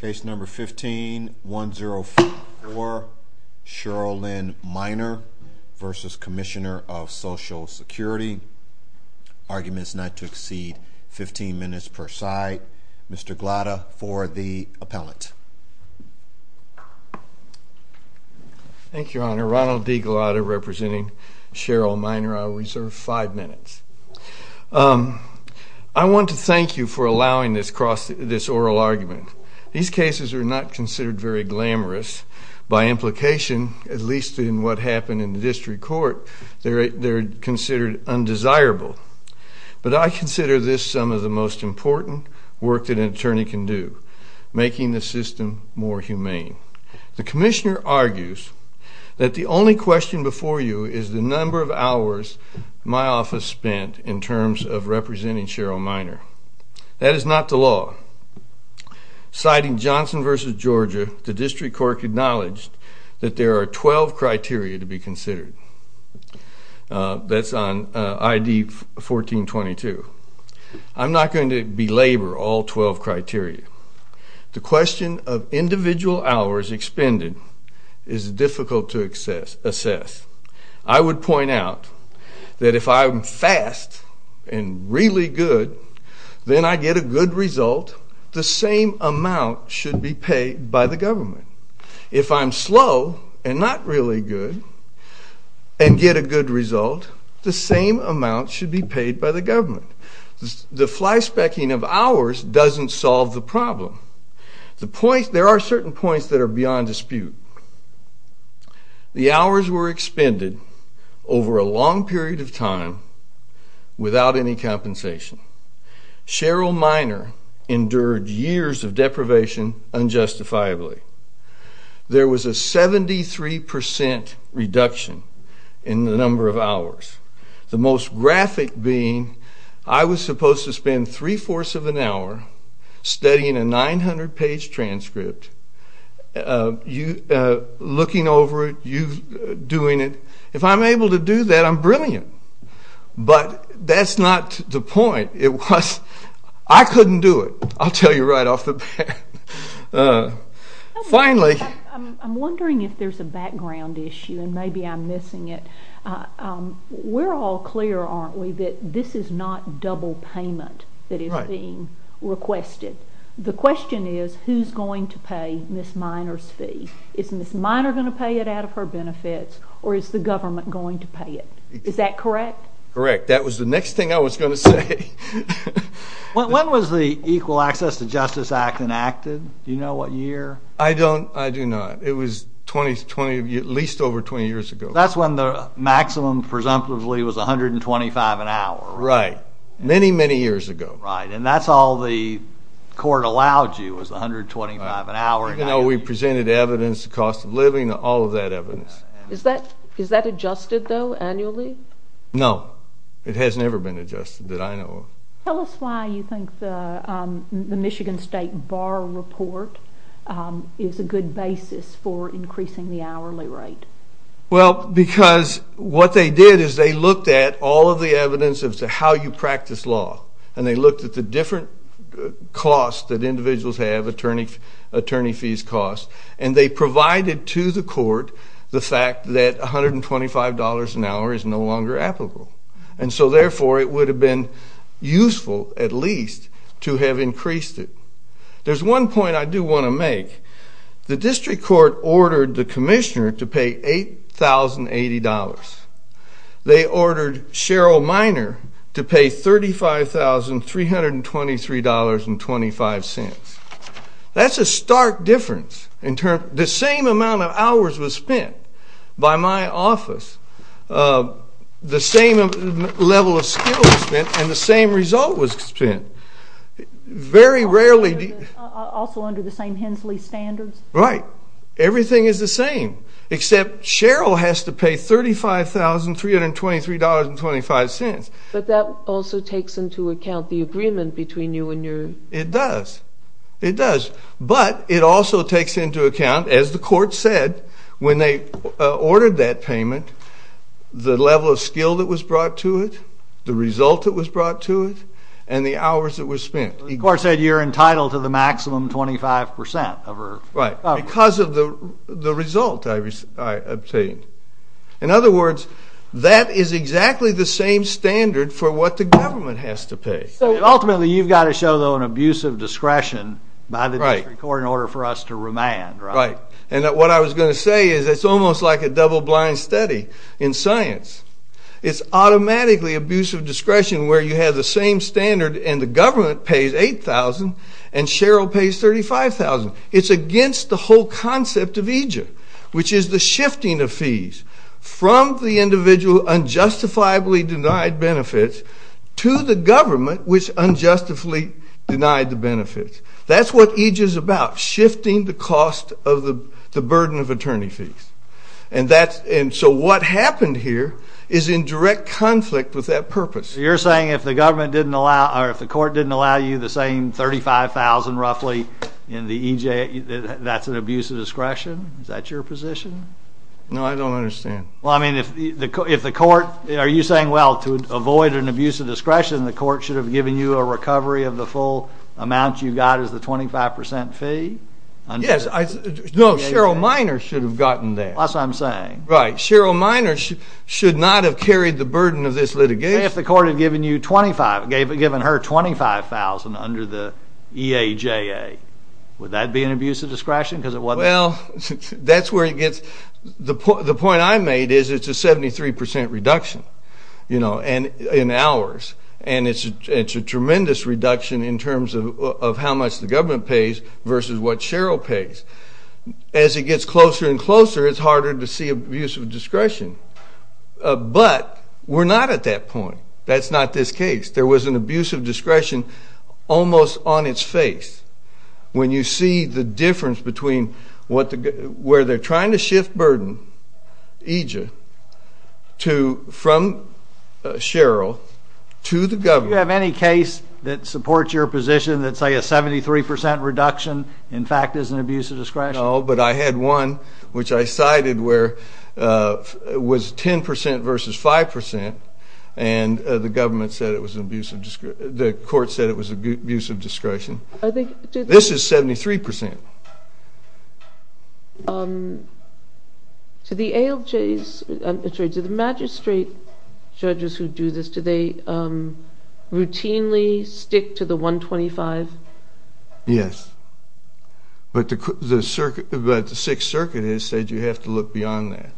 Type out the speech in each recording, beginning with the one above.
Case number 15104, Cheryl Lynn Miner v. Commissioner of Social Security. Arguments not to exceed 15 minutes per side. Mr. Glada for the appellant. Thank you, Your Honor. Ronald D. Glada representing Cheryl Miner. I reserve five minutes. I want to thank you for allowing this oral argument. These cases are not considered very glamorous. By implication, at least in what happened in the district court, they're considered undesirable. But I consider this some of the most important work that an attorney can do, making the system more humane. The commissioner argues that the only question before you is the number of hours my office spent in terms of representing Cheryl Miner. That is not the law. Citing Johnson v. Georgia, the district court acknowledged that there are 12 criteria to be considered. That's on I.D. 1422. I'm not going to belabor all 12 criteria. The question of individual hours expended is difficult to assess. I would point out that if I'm fast and really good, then I get a good result, the same amount should be paid by the government. If I'm slow and not really good and get a good result, the same amount should be paid by the government. The flyspecking of hours doesn't solve the problem. There are certain points that are beyond dispute. The hours were expended over a long period of time without any compensation. Cheryl Miner endured years of deprivation unjustifiably. There was a 73% reduction in the number of hours, the most graphic being I was supposed to spend three-fourths of an hour studying a book, looking over it, doing it. If I'm able to do that, I'm brilliant. But that's not the point. I couldn't do it, I'll tell you right off the bat. Finally... I'm wondering if there's a background issue and maybe I'm missing it. We're all clear, aren't we, that this is not double payment that is being requested. The question is, who's going to pay Ms. Miner's fee? Is Ms. Miner going to pay it out of her benefits or is the government going to pay it? Is that correct? Correct. That was the next thing I was going to say. When was the Equal Access to Justice Act enacted? Do you know what year? I don't, I do not. It was 20, at least over 20 years ago. That's when the maximum, presumptively, was 125 an hour. Right, many, many years ago. Right, and that's all the court allowed you, was 125 an hour. Even though we presented evidence, the cost of living, all of that evidence. Is that adjusted, though, annually? No, it has never been adjusted that I know of. Tell us why you think the Michigan State Bar Report is a good basis for increasing the hourly rate. Well, because what they did is they looked at all of the evidence as to how you practice law and they looked at the different costs that individuals have, attorney fees costs, and they provided to the court the fact that $125 an hour is no longer applicable. And so, therefore, it would have been useful, at least, to have increased it. There's one point I do want to make. The District Court ordered the $35,323.25. That's a stark difference. In terms, the same amount of hours was spent by my office, the same level of skill was spent, and the same result was spent. Very rarely... Also under the same Hensley standards? Right. Everything is the same, except Sheryl has to pay $35,323.25. But that also takes into account the agreement between you and your... It does. It does, but it also takes into account, as the court said, when they ordered that payment, the level of skill that was brought to it, the result that was brought to it, and the hours that were spent. The court said you're entitled to the maximum 25% of her... Right, because of the result I obtained. In other words, that is exactly the same standard for what the government has to pay. Ultimately, you've got to show, though, an abuse of discretion by the District Court in order for us to remand, right? Right. And what I was going to say is, it's almost like a double blind study in science. It's automatically abuse of discretion where you have the same standard, and the government pays $8,000, and Sheryl pays $35,000. It's against the whole concept of EJIP, which is the Individual Unjustifiably Denied Benefits, to the government, which unjustly denied the benefits. That's what EJIP is about, shifting the cost of the burden of attorney fees. And so what happened here is in direct conflict with that purpose. You're saying if the government didn't allow... Or if the court didn't allow you the same $35,000, roughly, in the EJIP, that's an abuse of discretion? Is that your position? No, I don't understand. Well, I mean, if the court... Are you saying, well, to avoid an abuse of discretion, the court should have given you a recovery of the full amount you got as the 25% fee? Yes. No, Sheryl Miner should have gotten that. That's what I'm saying. Right. Sheryl Miner should not have carried the burden of this litigation. If the court had given you $25,000, given her $25,000 under the EAJA, would that be an abuse of discretion? Well, that's where it gets... The point I made is it's a 73% reduction in hours, and it's a tremendous reduction in terms of how much the government pays versus what Sheryl pays. As it gets closer and closer, it's harder to see abuse of discretion. But we're not at that point. That's not this case. There was an abuse of discretion almost on its face. When you see the difference between what the... Where they're trying to shift burden, EAJA, from Sheryl to the government... Do you have any case that supports your position that say a 73% reduction, in fact, is an abuse of discretion? No, but I had one which I cited where it was 10% versus 5%, and the court said it was abuse of discretion. This is 73%. To the ALJs... I'm sorry, to the magistrate judges who do this, do they routinely stick to the $125,000? Yes, but the Sixth Circuit has said you have to look beyond that,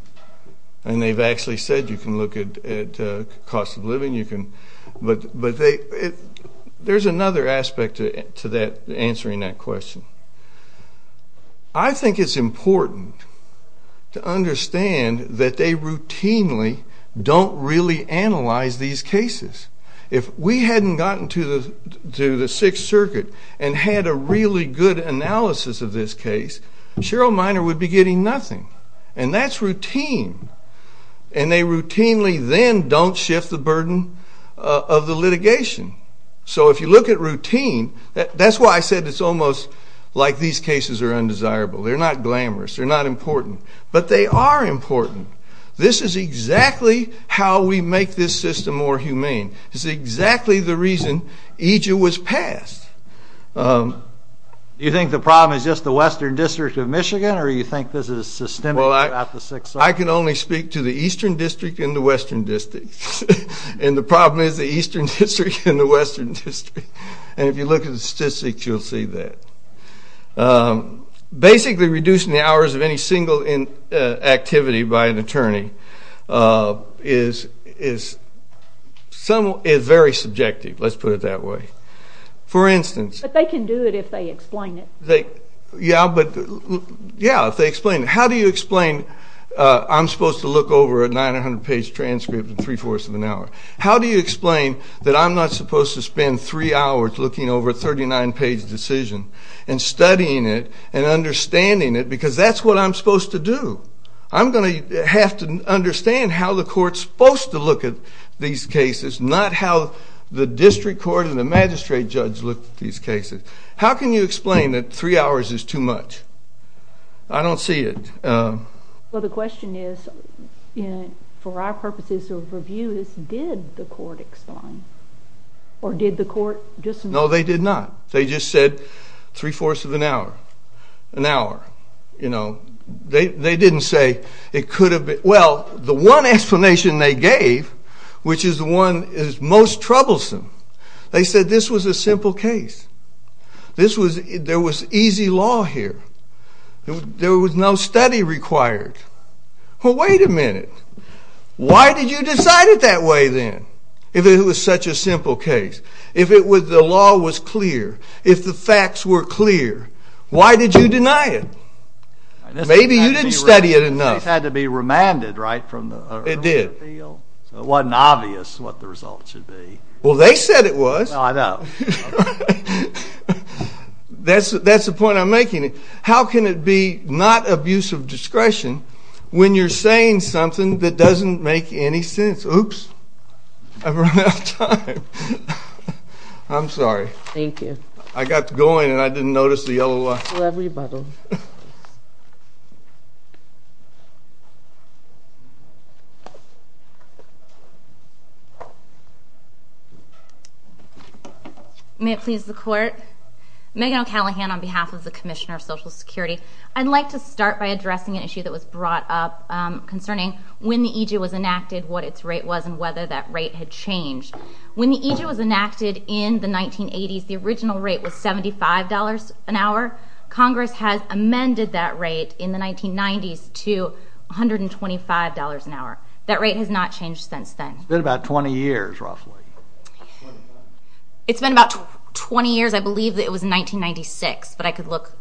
and they've actually said you can look at cost of living, you can... But they... There's another aspect to that, answering that question. I think it's important to understand that they routinely don't really analyze these cases. If we hadn't gotten to the Sixth Circuit and had a really good analysis of this case, Sheryl Miner would be getting nothing, and that's routine, and they routinely then don't shift the burden of the litigation. So if you look at routine... That's why I said it's almost like these cases are undesirable. They're not glamorous, they're not important, but they are important. This is exactly how we make this system more humane. It's exactly the reason EJA was passed. Do you think the Western District of Michigan, or you think this is systemic about the Sixth Circuit? Well, I can only speak to the Eastern District and the Western District, and the problem is the Eastern District and the Western District, and if you look at the statistics, you'll see that. Basically, reducing the hours of any single activity by an attorney is very subjective, let's put it that way. For instance... But they can do it if they explain it. Yeah, if they explain it. How do you explain I'm supposed to look over a 900-page transcript in three-fourths of an hour? How do you explain that I'm not supposed to spend three hours looking over a 39-page decision, and studying it, and understanding it, because that's what I'm supposed to do. I'm going to have to understand how the court's supposed to look at these cases, not how the district court and the magistrate judge look at these cases. How can you explain that three hours is too much? I don't see it. Well, the question is, for our purposes of review, is did the court explain? Or did the court just... No, they did not. They just said three-fourths of an hour, an hour. You know, they didn't say it could have been... Well, the one explanation they There was easy law here. There was no study required. Well, wait a minute. Why did you decide it that way then, if it was such a simple case? If the law was clear, if the facts were clear, why did you deny it? Maybe you didn't study it enough. It had to be remanded, right? It did. It wasn't obvious what the That's the point I'm making. How can it be not of use of discretion when you're saying something that doesn't make any sense? Oops, I've run out of time. I'm sorry. Thank you. I got going and I didn't notice the yellow line. May it please the court. Megan O'Callaghan on behalf of the Commissioner of Social Security. I'd like to start by addressing an issue that was brought up concerning when the EJU was enacted, what its rate was, and whether that rate had changed. When the EJU was enacted in the 1980s, the original rate was $75 an hour. Congress has amended that rate in the 1990s to $125 an hour. That rate has not changed since then. It's been about 20 years, roughly. It's been about 20 years. I believe it was 1996, but I could look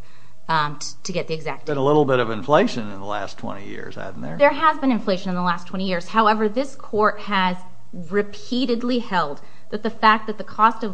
to get the exact date. There's been a little bit of inflation in the last 20 years, hasn't there? There has been inflation in the last 20 years. However, this court has repeatedly held that the fact that the cost of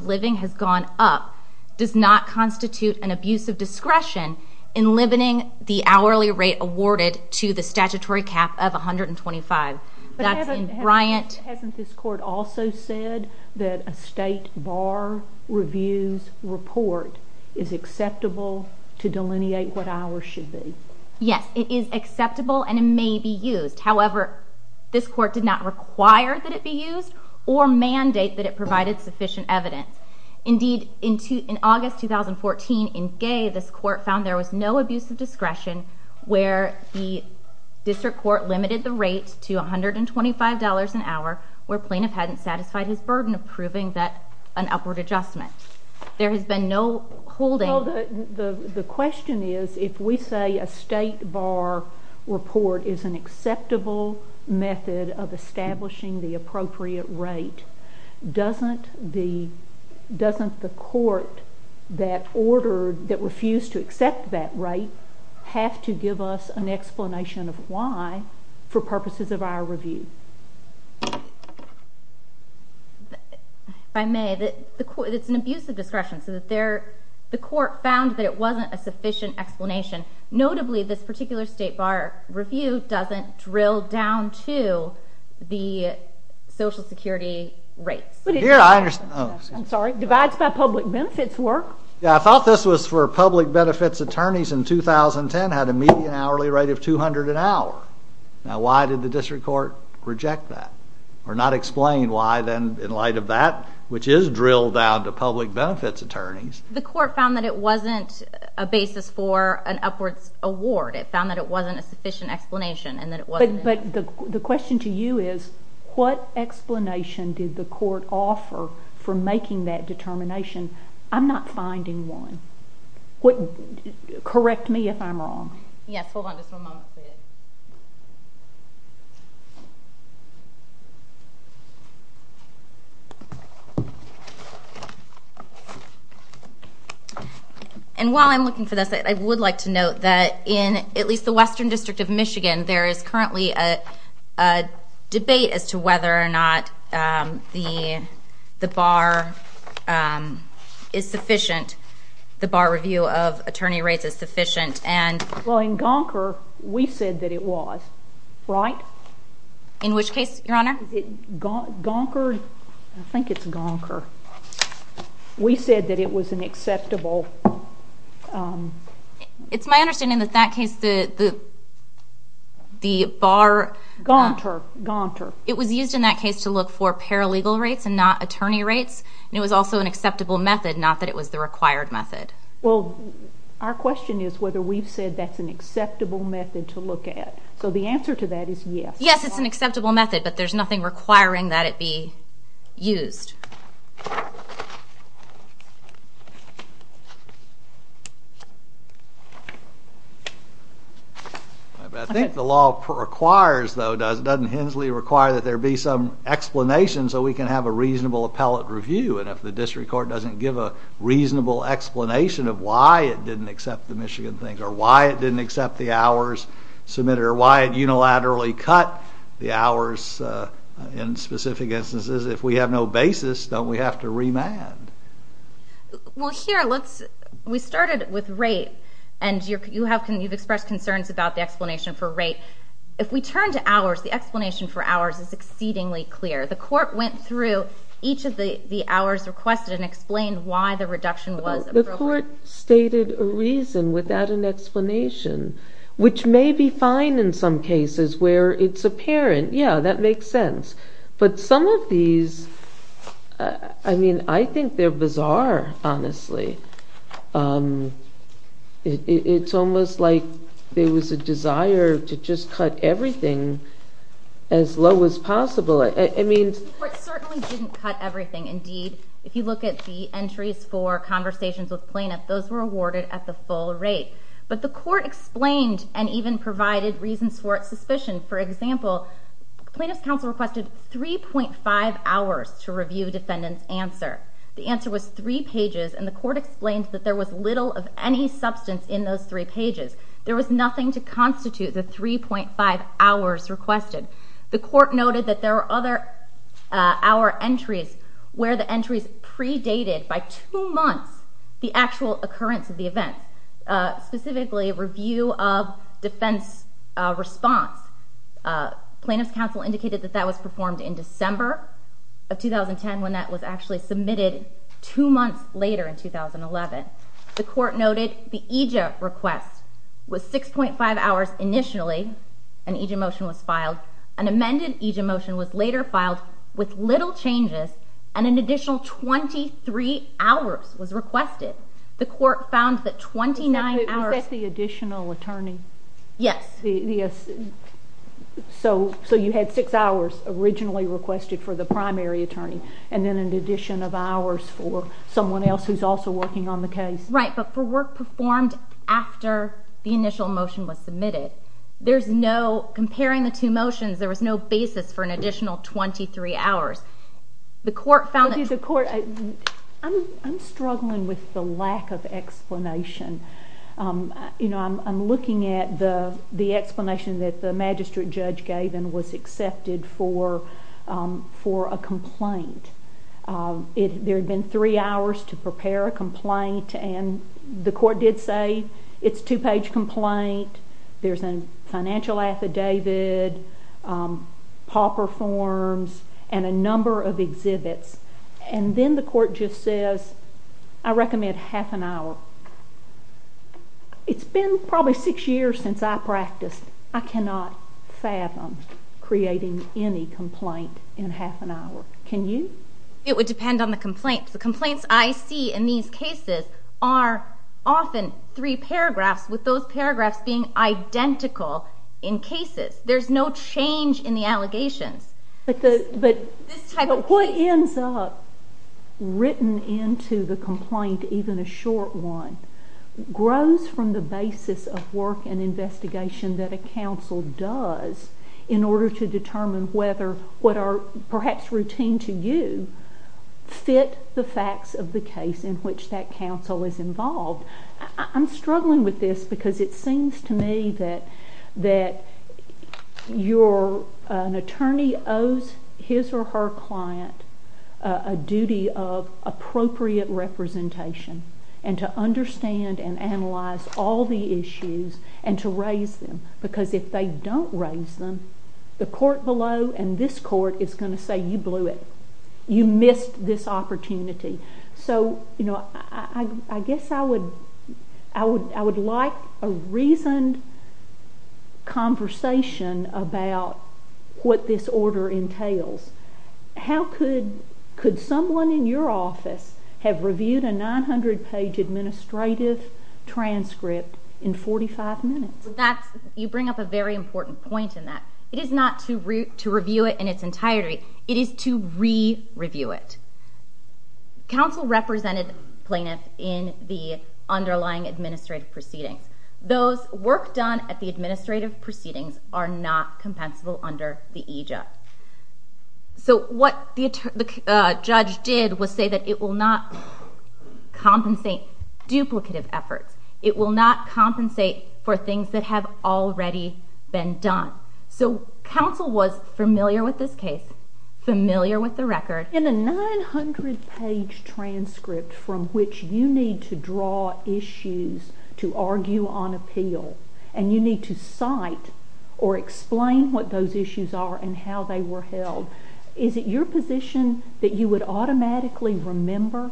discretion in limiting the hourly rate awarded to the statutory cap of $125 an hour. That's in Bryant. Hasn't this court also said that a state bar review's report is acceptable to delineate what hours should be? Yes, it is acceptable and it may be used. However, this court did not require that it be used or mandate that it provided sufficient evidence. Indeed, in August 2014, in Gay, this court found there was no abuse of discretion where the district court limited the rate to $125 an hour, where plaintiff hadn't satisfied his burden of proving that an upward adjustment. There has been no holding. The question is, if we say a state bar report is an acceptable method of establishing the appropriate rate, doesn't the court that refused to accept that rate have to give us an explanation of why for purposes of our review? If I may, it's an abuse of discretion, so the court found that it wasn't a sufficient explanation. Notably, this particular state bar review doesn't drill down to the Social Security rates. Divides by public benefits work. Yeah, I thought this was for public benefits attorneys in 2010 had a median hourly rate of $200 an hour. Now, why did the district court reject that or not explain why then in light of that, which is drilled down to public benefits attorneys? The court found that it wasn't a basis for an upwards award. It found that it wasn't a sufficient explanation. But the question to you is, what explanation did the court offer for making that determination? I'm not finding one. Correct me if I'm wrong. Yes, hold on just one moment, please. And while I'm looking for this, I would like to note that in at least the Michigan, there is currently a debate as to whether or not the bar is sufficient. The bar review of attorney rates is sufficient. And well, in Gonker, we said that it was right. In which case, Your Honor, it got gonkered. I think it's gonker. We said that it was an acceptable. It's my understanding that that case, the bar... Gonker. It was used in that case to look for paralegal rates and not attorney rates. And it was also an acceptable method, not that it was the required method. Well, our question is whether we've said that's an acceptable method to look at. So the answer to that is yes. Yes, it's an acceptable method, but there's nothing requiring that it be accepted. I think the law requires though, doesn't Hensley require that there be some explanation so we can have a reasonable appellate review. And if the district court doesn't give a reasonable explanation of why it didn't accept the Michigan things, or why it didn't accept the hours submitted, or why it unilaterally cut the hours in specific instances, if we have no basis, don't we have to remand? Well, here, let's... We started with rate, and you've expressed concerns about the explanation for rate. If we turn to hours, the explanation for hours is exceedingly clear. The court went through each of the hours requested and explained why the reduction was appropriate. The court stated a reason without an explanation, which may be fine in some cases where it's apparent, yeah, that makes sense. But some of these, I mean, I think they're bizarre, honestly. It's almost like there was a desire to just cut everything as low as possible. I mean... The court certainly didn't cut everything. Indeed, if you look at the entries for conversations with plaintiff, those were awarded at the full rate. But the court explained and even provided reasons for its The plaintiff's counsel requested 3.5 hours to review defendant's answer. The answer was three pages, and the court explained that there was little of any substance in those three pages. There was nothing to constitute the 3.5 hours requested. The court noted that there were other hour entries where the entries predated by two months the actual occurrence of the event, specifically a review of defendant's response. Plaintiff's counsel indicated that that was performed in December of 2010, when that was actually submitted two months later in 2011. The court noted the EJIA request was 6.5 hours initially, an EJIA motion was filed. An amended EJIA motion was later filed with little changes, and an additional 23 hours was requested. The court found that 29 hours... Was that the additional attorney? Yes. So you had six hours originally requested for the primary attorney, and then an addition of hours for someone else who's also working on the case? Right, but for work performed after the initial motion was submitted, there's no, comparing the two motions, there was no basis for an additional 23 hours. The court found that... I'm struggling with the lack of explanation. I'm looking at the explanation that the magistrate judge gave and was accepted for a complaint. There had been three hours to prepare a complaint, and the court did say it's a two page complaint, there's a financial affidavit, pauper forms, and a number of exhibits, and then the court just says, I recommend half an hour. It's been probably six years since I practiced. I cannot fathom creating any complaint in half an hour. Can you? It would depend on the complaint. The complaints I see in these cases are often three paragraphs, with those paragraphs being identical in cases. There's no change in the allegations. But what ends up written into the complaint, even a short one, grows from the basis of work and investigation that a counsel does, in order to determine whether what are perhaps routine to you, fit the facts of the case in which that counsel is involved. I'm struggling with this because it seems to me that an attorney owes his or her client a duty of appropriate representation, and to understand and analyze all the issues, and to raise them. Because if they don't raise them, the court below and this court is going to say, You missed this opportunity. So, I guess I would like a reasoned conversation about what this order entails. How could someone in your office have reviewed a 900-page administrative transcript in 45 minutes? You bring up a very important point in that. It is not to review it in its entirety. It is to re-review it. Counsel represented plaintiffs in the underlying administrative proceedings. Those work done at the administrative proceedings are not compensable under the EJUD. So, what the judge did was say that it will not compensate duplicative efforts. It will not compensate for things that have already been done. So, counsel was familiar with this case, familiar with the record. In a 900-page transcript from which you need to draw issues to argue on appeal, and you need to cite or explain what those issues are and how they were held, is it your position that you would automatically remember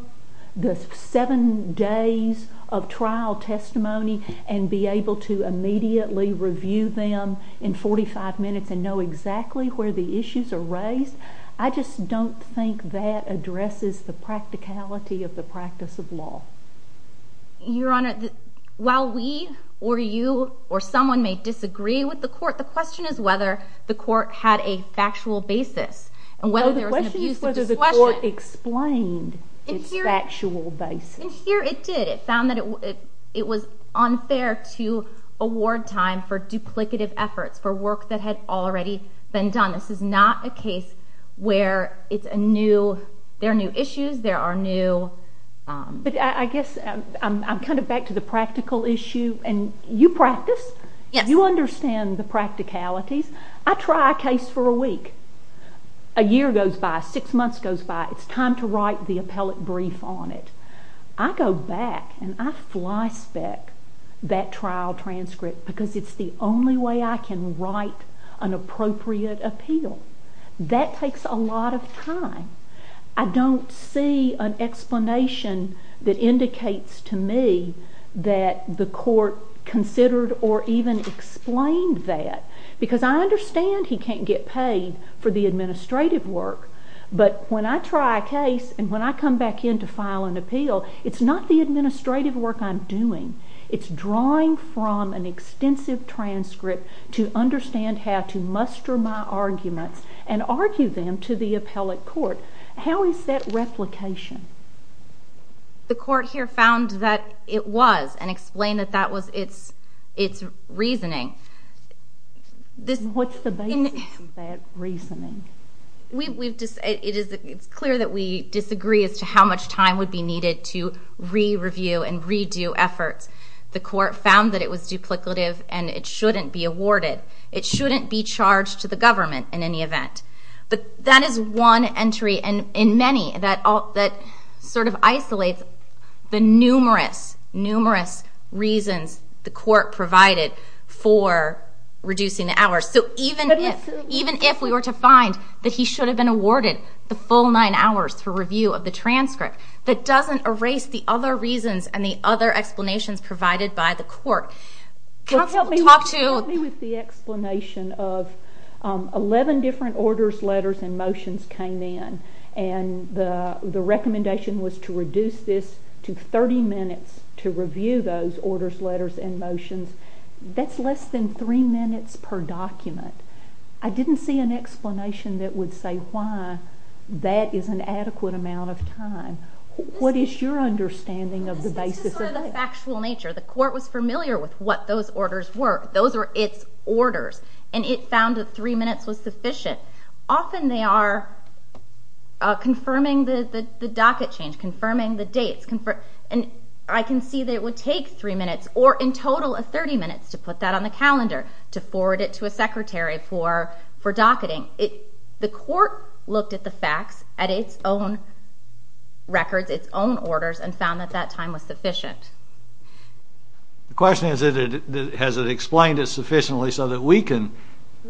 the 7 days of trial testimony and be able to immediately review them in 45 minutes and know exactly where the issues are raised? I just don't think that addresses the practicality of the practice of law. Your Honor, while we or you or someone may disagree with the court, the question is whether the court had a factual basis. No, the question is whether the court explained its factual basis. And here it did. It found that it was unfair to award time for duplicative efforts, for work that had already been done. This is not a case where there are new issues, there are new… But I guess I'm kind of back to the practical issue. And you practice? Yes. You understand the practicalities? I try a case for a week. A year goes by. Six months goes by. It's time to write the appellate brief on it. I go back and I flyspeck that trial transcript because it's the only way I can write an appropriate appeal. That takes a lot of time. I don't see an explanation that indicates to me that the court considered or even explained that. Because I understand he can't get paid for the administrative work, but when I try a case and when I come back in to file an appeal, it's not the administrative work I'm doing. It's drawing from an extensive transcript to understand how to muster my arguments and argue them to the appellate court. How is that replication? The court here found that it was and explained that that was its reasoning. What's the basis of that reasoning? It's clear that we disagree as to how much time would be needed to re-review and re-do efforts. The court found that it was duplicative and it shouldn't be awarded. It shouldn't be charged to the government in any event. But that is one entry in many that sort of isolates the numerous, numerous reasons the court provided for reducing the hours. Even if we were to find that he should have been awarded the full nine hours for review of the transcript, that doesn't erase the other reasons and the other explanations provided by the court. Help me with the explanation of 11 different orders, letters, and motions came in and the recommendation was to reduce this to 30 minutes to review those orders, letters, and motions. That's less than three minutes per document. I didn't see an explanation that would say why that is an adequate amount of time. What is your understanding of the basis of that? It's just sort of the factual nature. The court was familiar with what those orders were. Those were its orders and it found that three minutes was sufficient. Often they are confirming the docket change, confirming the dates, and I can see that it would take three minutes or in total 30 minutes to put that on the calendar, to forward it to a secretary for docketing. The court looked at the facts, at its own records, its own orders, and found that that time was sufficient. The question is has it explained it sufficiently so that we can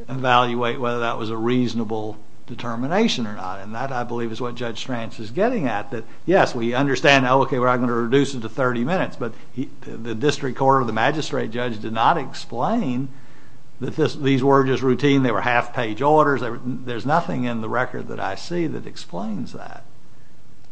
evaluate whether that was a reasonable determination or not, and that I believe is what Judge Strantz is getting at. Yes, we understand, okay, we're not going to reduce it to 30 minutes, but the district court or the magistrate judge did not explain that these were just routine, they were half-page orders, there's nothing in the record that I see that explains that.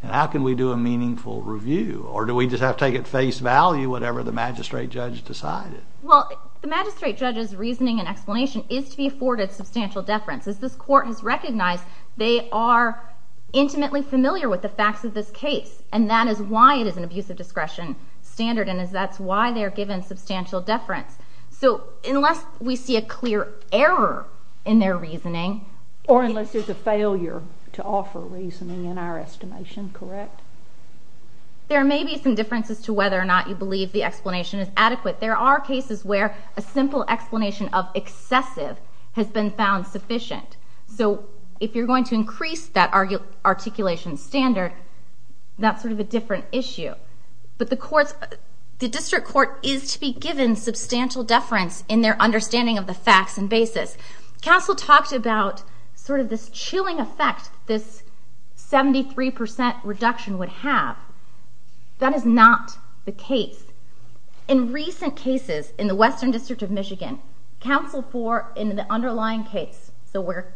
How can we do a meaningful review? Or do we just have to take at face value whatever the magistrate judge decided? Well, the magistrate judge's reasoning and explanation is to be afforded substantial deference. As this court has recognized, they are intimately familiar with the facts of this case, and that is why it is an abusive discretion standard, and that's why they're given substantial deference. So unless we see a clear error in their reasoning... Or unless there's a failure to offer reasoning in our estimation, correct? There may be some differences to whether or not you believe the explanation is adequate. There are cases where a simple explanation of excessive has been found sufficient. So if you're going to increase that articulation standard, that's sort of a different issue. But the district court is to be given substantial deference in their understanding of the facts and basis. Counsel talked about sort of this chilling effect this 73% reduction would have. That is not the case. In recent cases in the Western District of Michigan, counsel for an underlying case, so where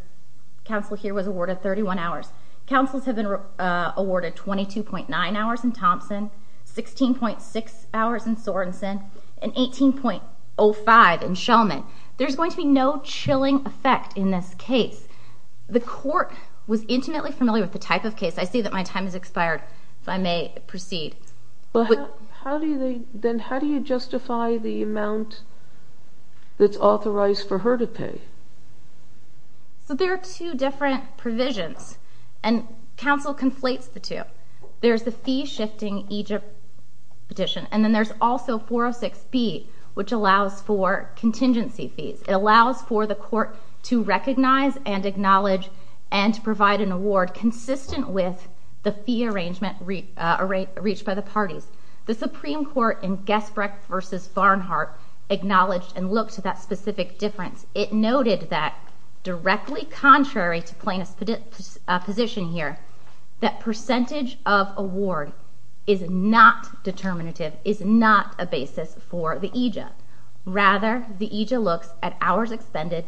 counsel here was awarded 31 hours, counsels have been awarded 22.9 hours in Thompson, 16.6 hours in Sorenson, and 18.05 in Shellman. There's going to be no chilling effect in this case. The court was intimately familiar with the type of case. I see that my time has expired, if I may proceed. Then how do you justify the amount that's authorized for her to pay? So there are two different provisions, and counsel conflates the two. There's the fee-shifting Egypt petition, and then there's also 406B, which allows for contingency fees. It allows for the court to recognize and acknowledge and to provide an award consistent with the fee arrangement reached by the parties. The Supreme Court in Gessbrecht v. Varnhart acknowledged and looked at that specific difference. It noted that directly contrary to plaintiff's position here, that percentage of award is not determinative, is not a basis for the aegis. Rather, the aegis looks at hours expended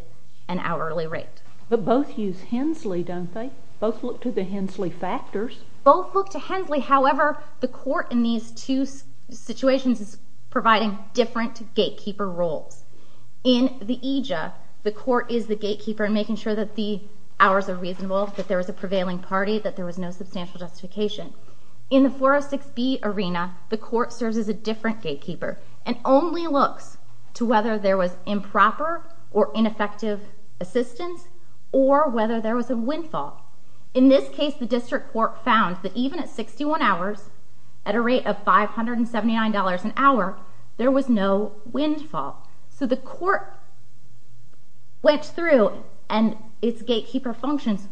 and hourly rate. But both use Hensley, don't they? Both look to the Hensley factors. Both look to Hensley. However, the court in these two situations is providing different gatekeeper roles. In the aegis, the court is the gatekeeper in making sure that the hours are reasonable, that there was a prevailing party, that there was no substantial justification. In the 406B arena, the court serves as a different gatekeeper and only looks to whether there was improper or ineffective assistance or whether there was a windfall. In this case, the district court found that even at 61 hours, at a rate of $579 an hour, there was no windfall. So the court went through its gatekeeper functions,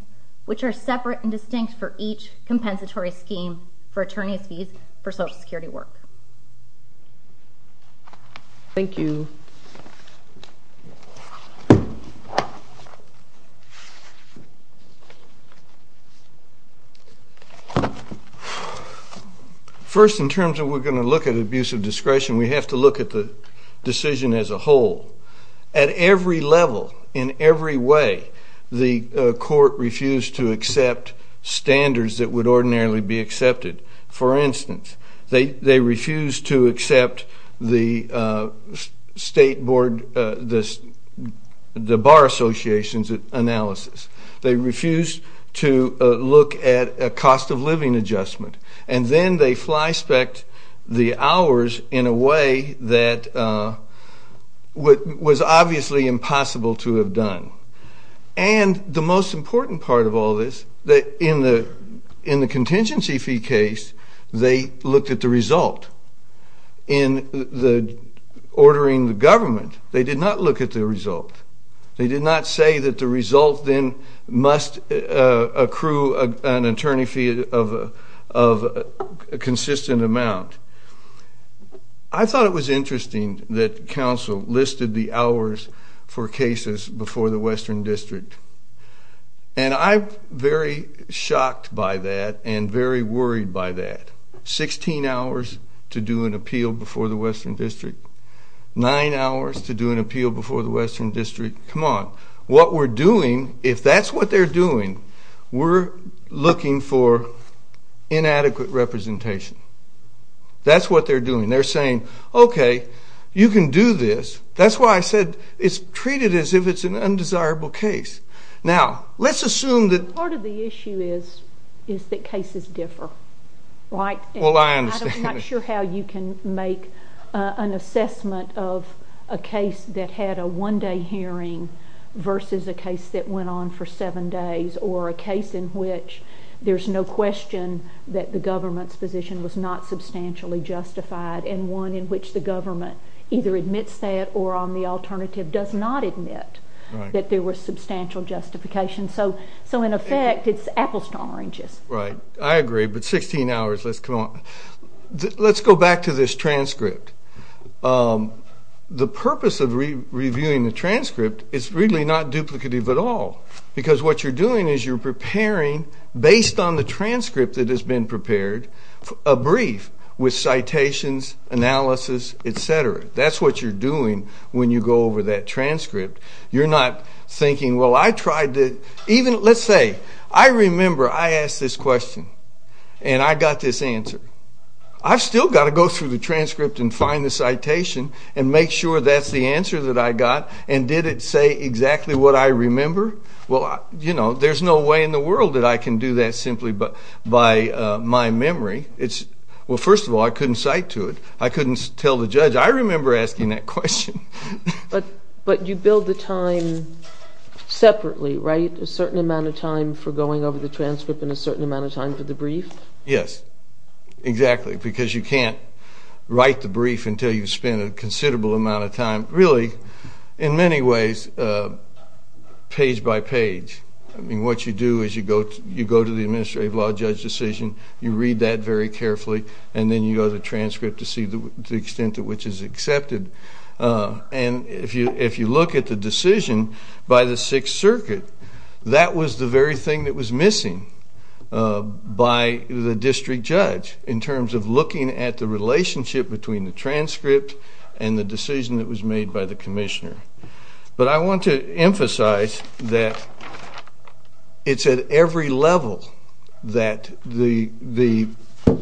which are separate and distinct for each compensatory scheme for attorneys fees for Social Security work. Thank you. First, in terms of we're going to look at abuse of discretion, we have to look at the decision as a whole. At every level, in every way, the court refused to accept standards that would ordinarily be accepted. For instance, they refused to accept the state board, the bar association's analysis. They refused to look at a cost-of-living adjustment. And then they fly-spec'd the hours in a way that was obviously impossible to have done. And the most important part of all this, in the contingency fee case, they looked at the result. In ordering the government, they did not look at the result. They did not say that the result then must accrue an attorney fee of a consistent amount. I thought it was interesting that counsel listed the hours for cases before the Western District. And I'm very shocked by that and very worried by that. Sixteen hours to do an appeal before the Western District. Nine hours to do an appeal before the Western District. Come on. What we're doing, if that's what they're doing, we're looking for inadequate representation. That's what they're doing. They're saying, okay, you can do this. That's why I said it's treated as if it's an undesirable case. Now, let's assume that... Part of the issue is that cases differ, right? Well, I understand. I'm not sure how you can make an assessment of a case that had a one-day hearing versus a case that went on for seven days or a case in which there's no question that the government's position was not substantially justified and one in which the government either admits that or, on the alternative, does not admit that there was substantial justification. So, in effect, it's apples to oranges. Right. I agree. But 16 hours, let's go on. Let's go back to this transcript. The purpose of reviewing the transcript is really not duplicative at all because what you're doing is you're preparing, based on the transcript that has been prepared, a brief with citations, analysis, et cetera. That's what you're doing when you go over that transcript. You're not thinking, well, I tried to... I asked this question, and I got this answer. I've still got to go through the transcript and find the citation and make sure that's the answer that I got. And did it say exactly what I remember? Well, you know, there's no way in the world that I can do that simply by my memory. Well, first of all, I couldn't cite to it. I couldn't tell the judge. I remember asking that question. But you build the time separately, right, a certain amount of time for going over the transcript and a certain amount of time for the brief? Yes, exactly, because you can't write the brief until you've spent a considerable amount of time. Really, in many ways, page by page. I mean, what you do is you go to the administrative law judge decision, you read that very carefully, and then you go to the transcript to see the extent to which it's accepted. And if you look at the decision by the Sixth Circuit, that was the very thing that was missing by the district judge in terms of looking at the relationship between the transcript and the decision that was made by the commissioner. But I want to emphasize that it's at every level that the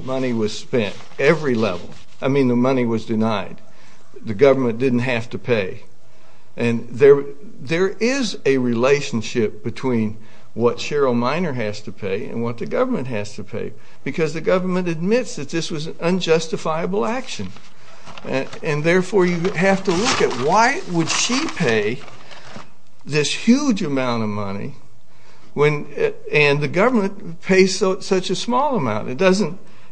money was spent, every level. I mean, the money was denied. The government didn't have to pay. And there is a relationship between what Cheryl Miner has to pay and what the government has to pay, because the government admits that this was an unjustifiable action. And therefore, you have to look at why would she pay this huge amount of money and the government pays such a small amount.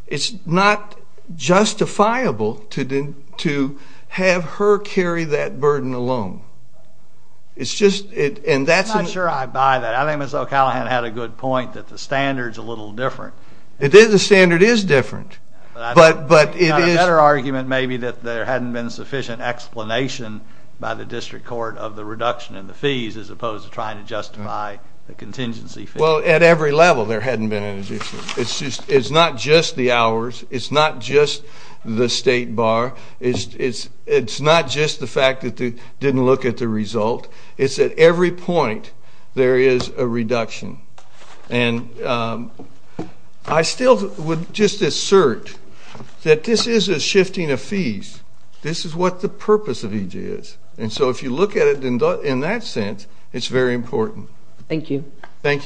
It's not justifiable to have her carry that burden alone. I'm not sure I buy that. I think Ms. O'Callaghan had a good point that the standard's a little different. The standard is different. But it is. A better argument may be that there hadn't been sufficient explanation by the district court of the reduction in the fees as opposed to trying to justify the contingency fees. Well, at every level there hadn't been an addition. It's not just the hours. It's not just the state bar. It's not just the fact that they didn't look at the result. It's at every point there is a reduction. And I still would just assert that this is a shifting of fees. This is what the purpose of EJ is. And so if you look at it in that sense, it's very important. Thank you. Thank you.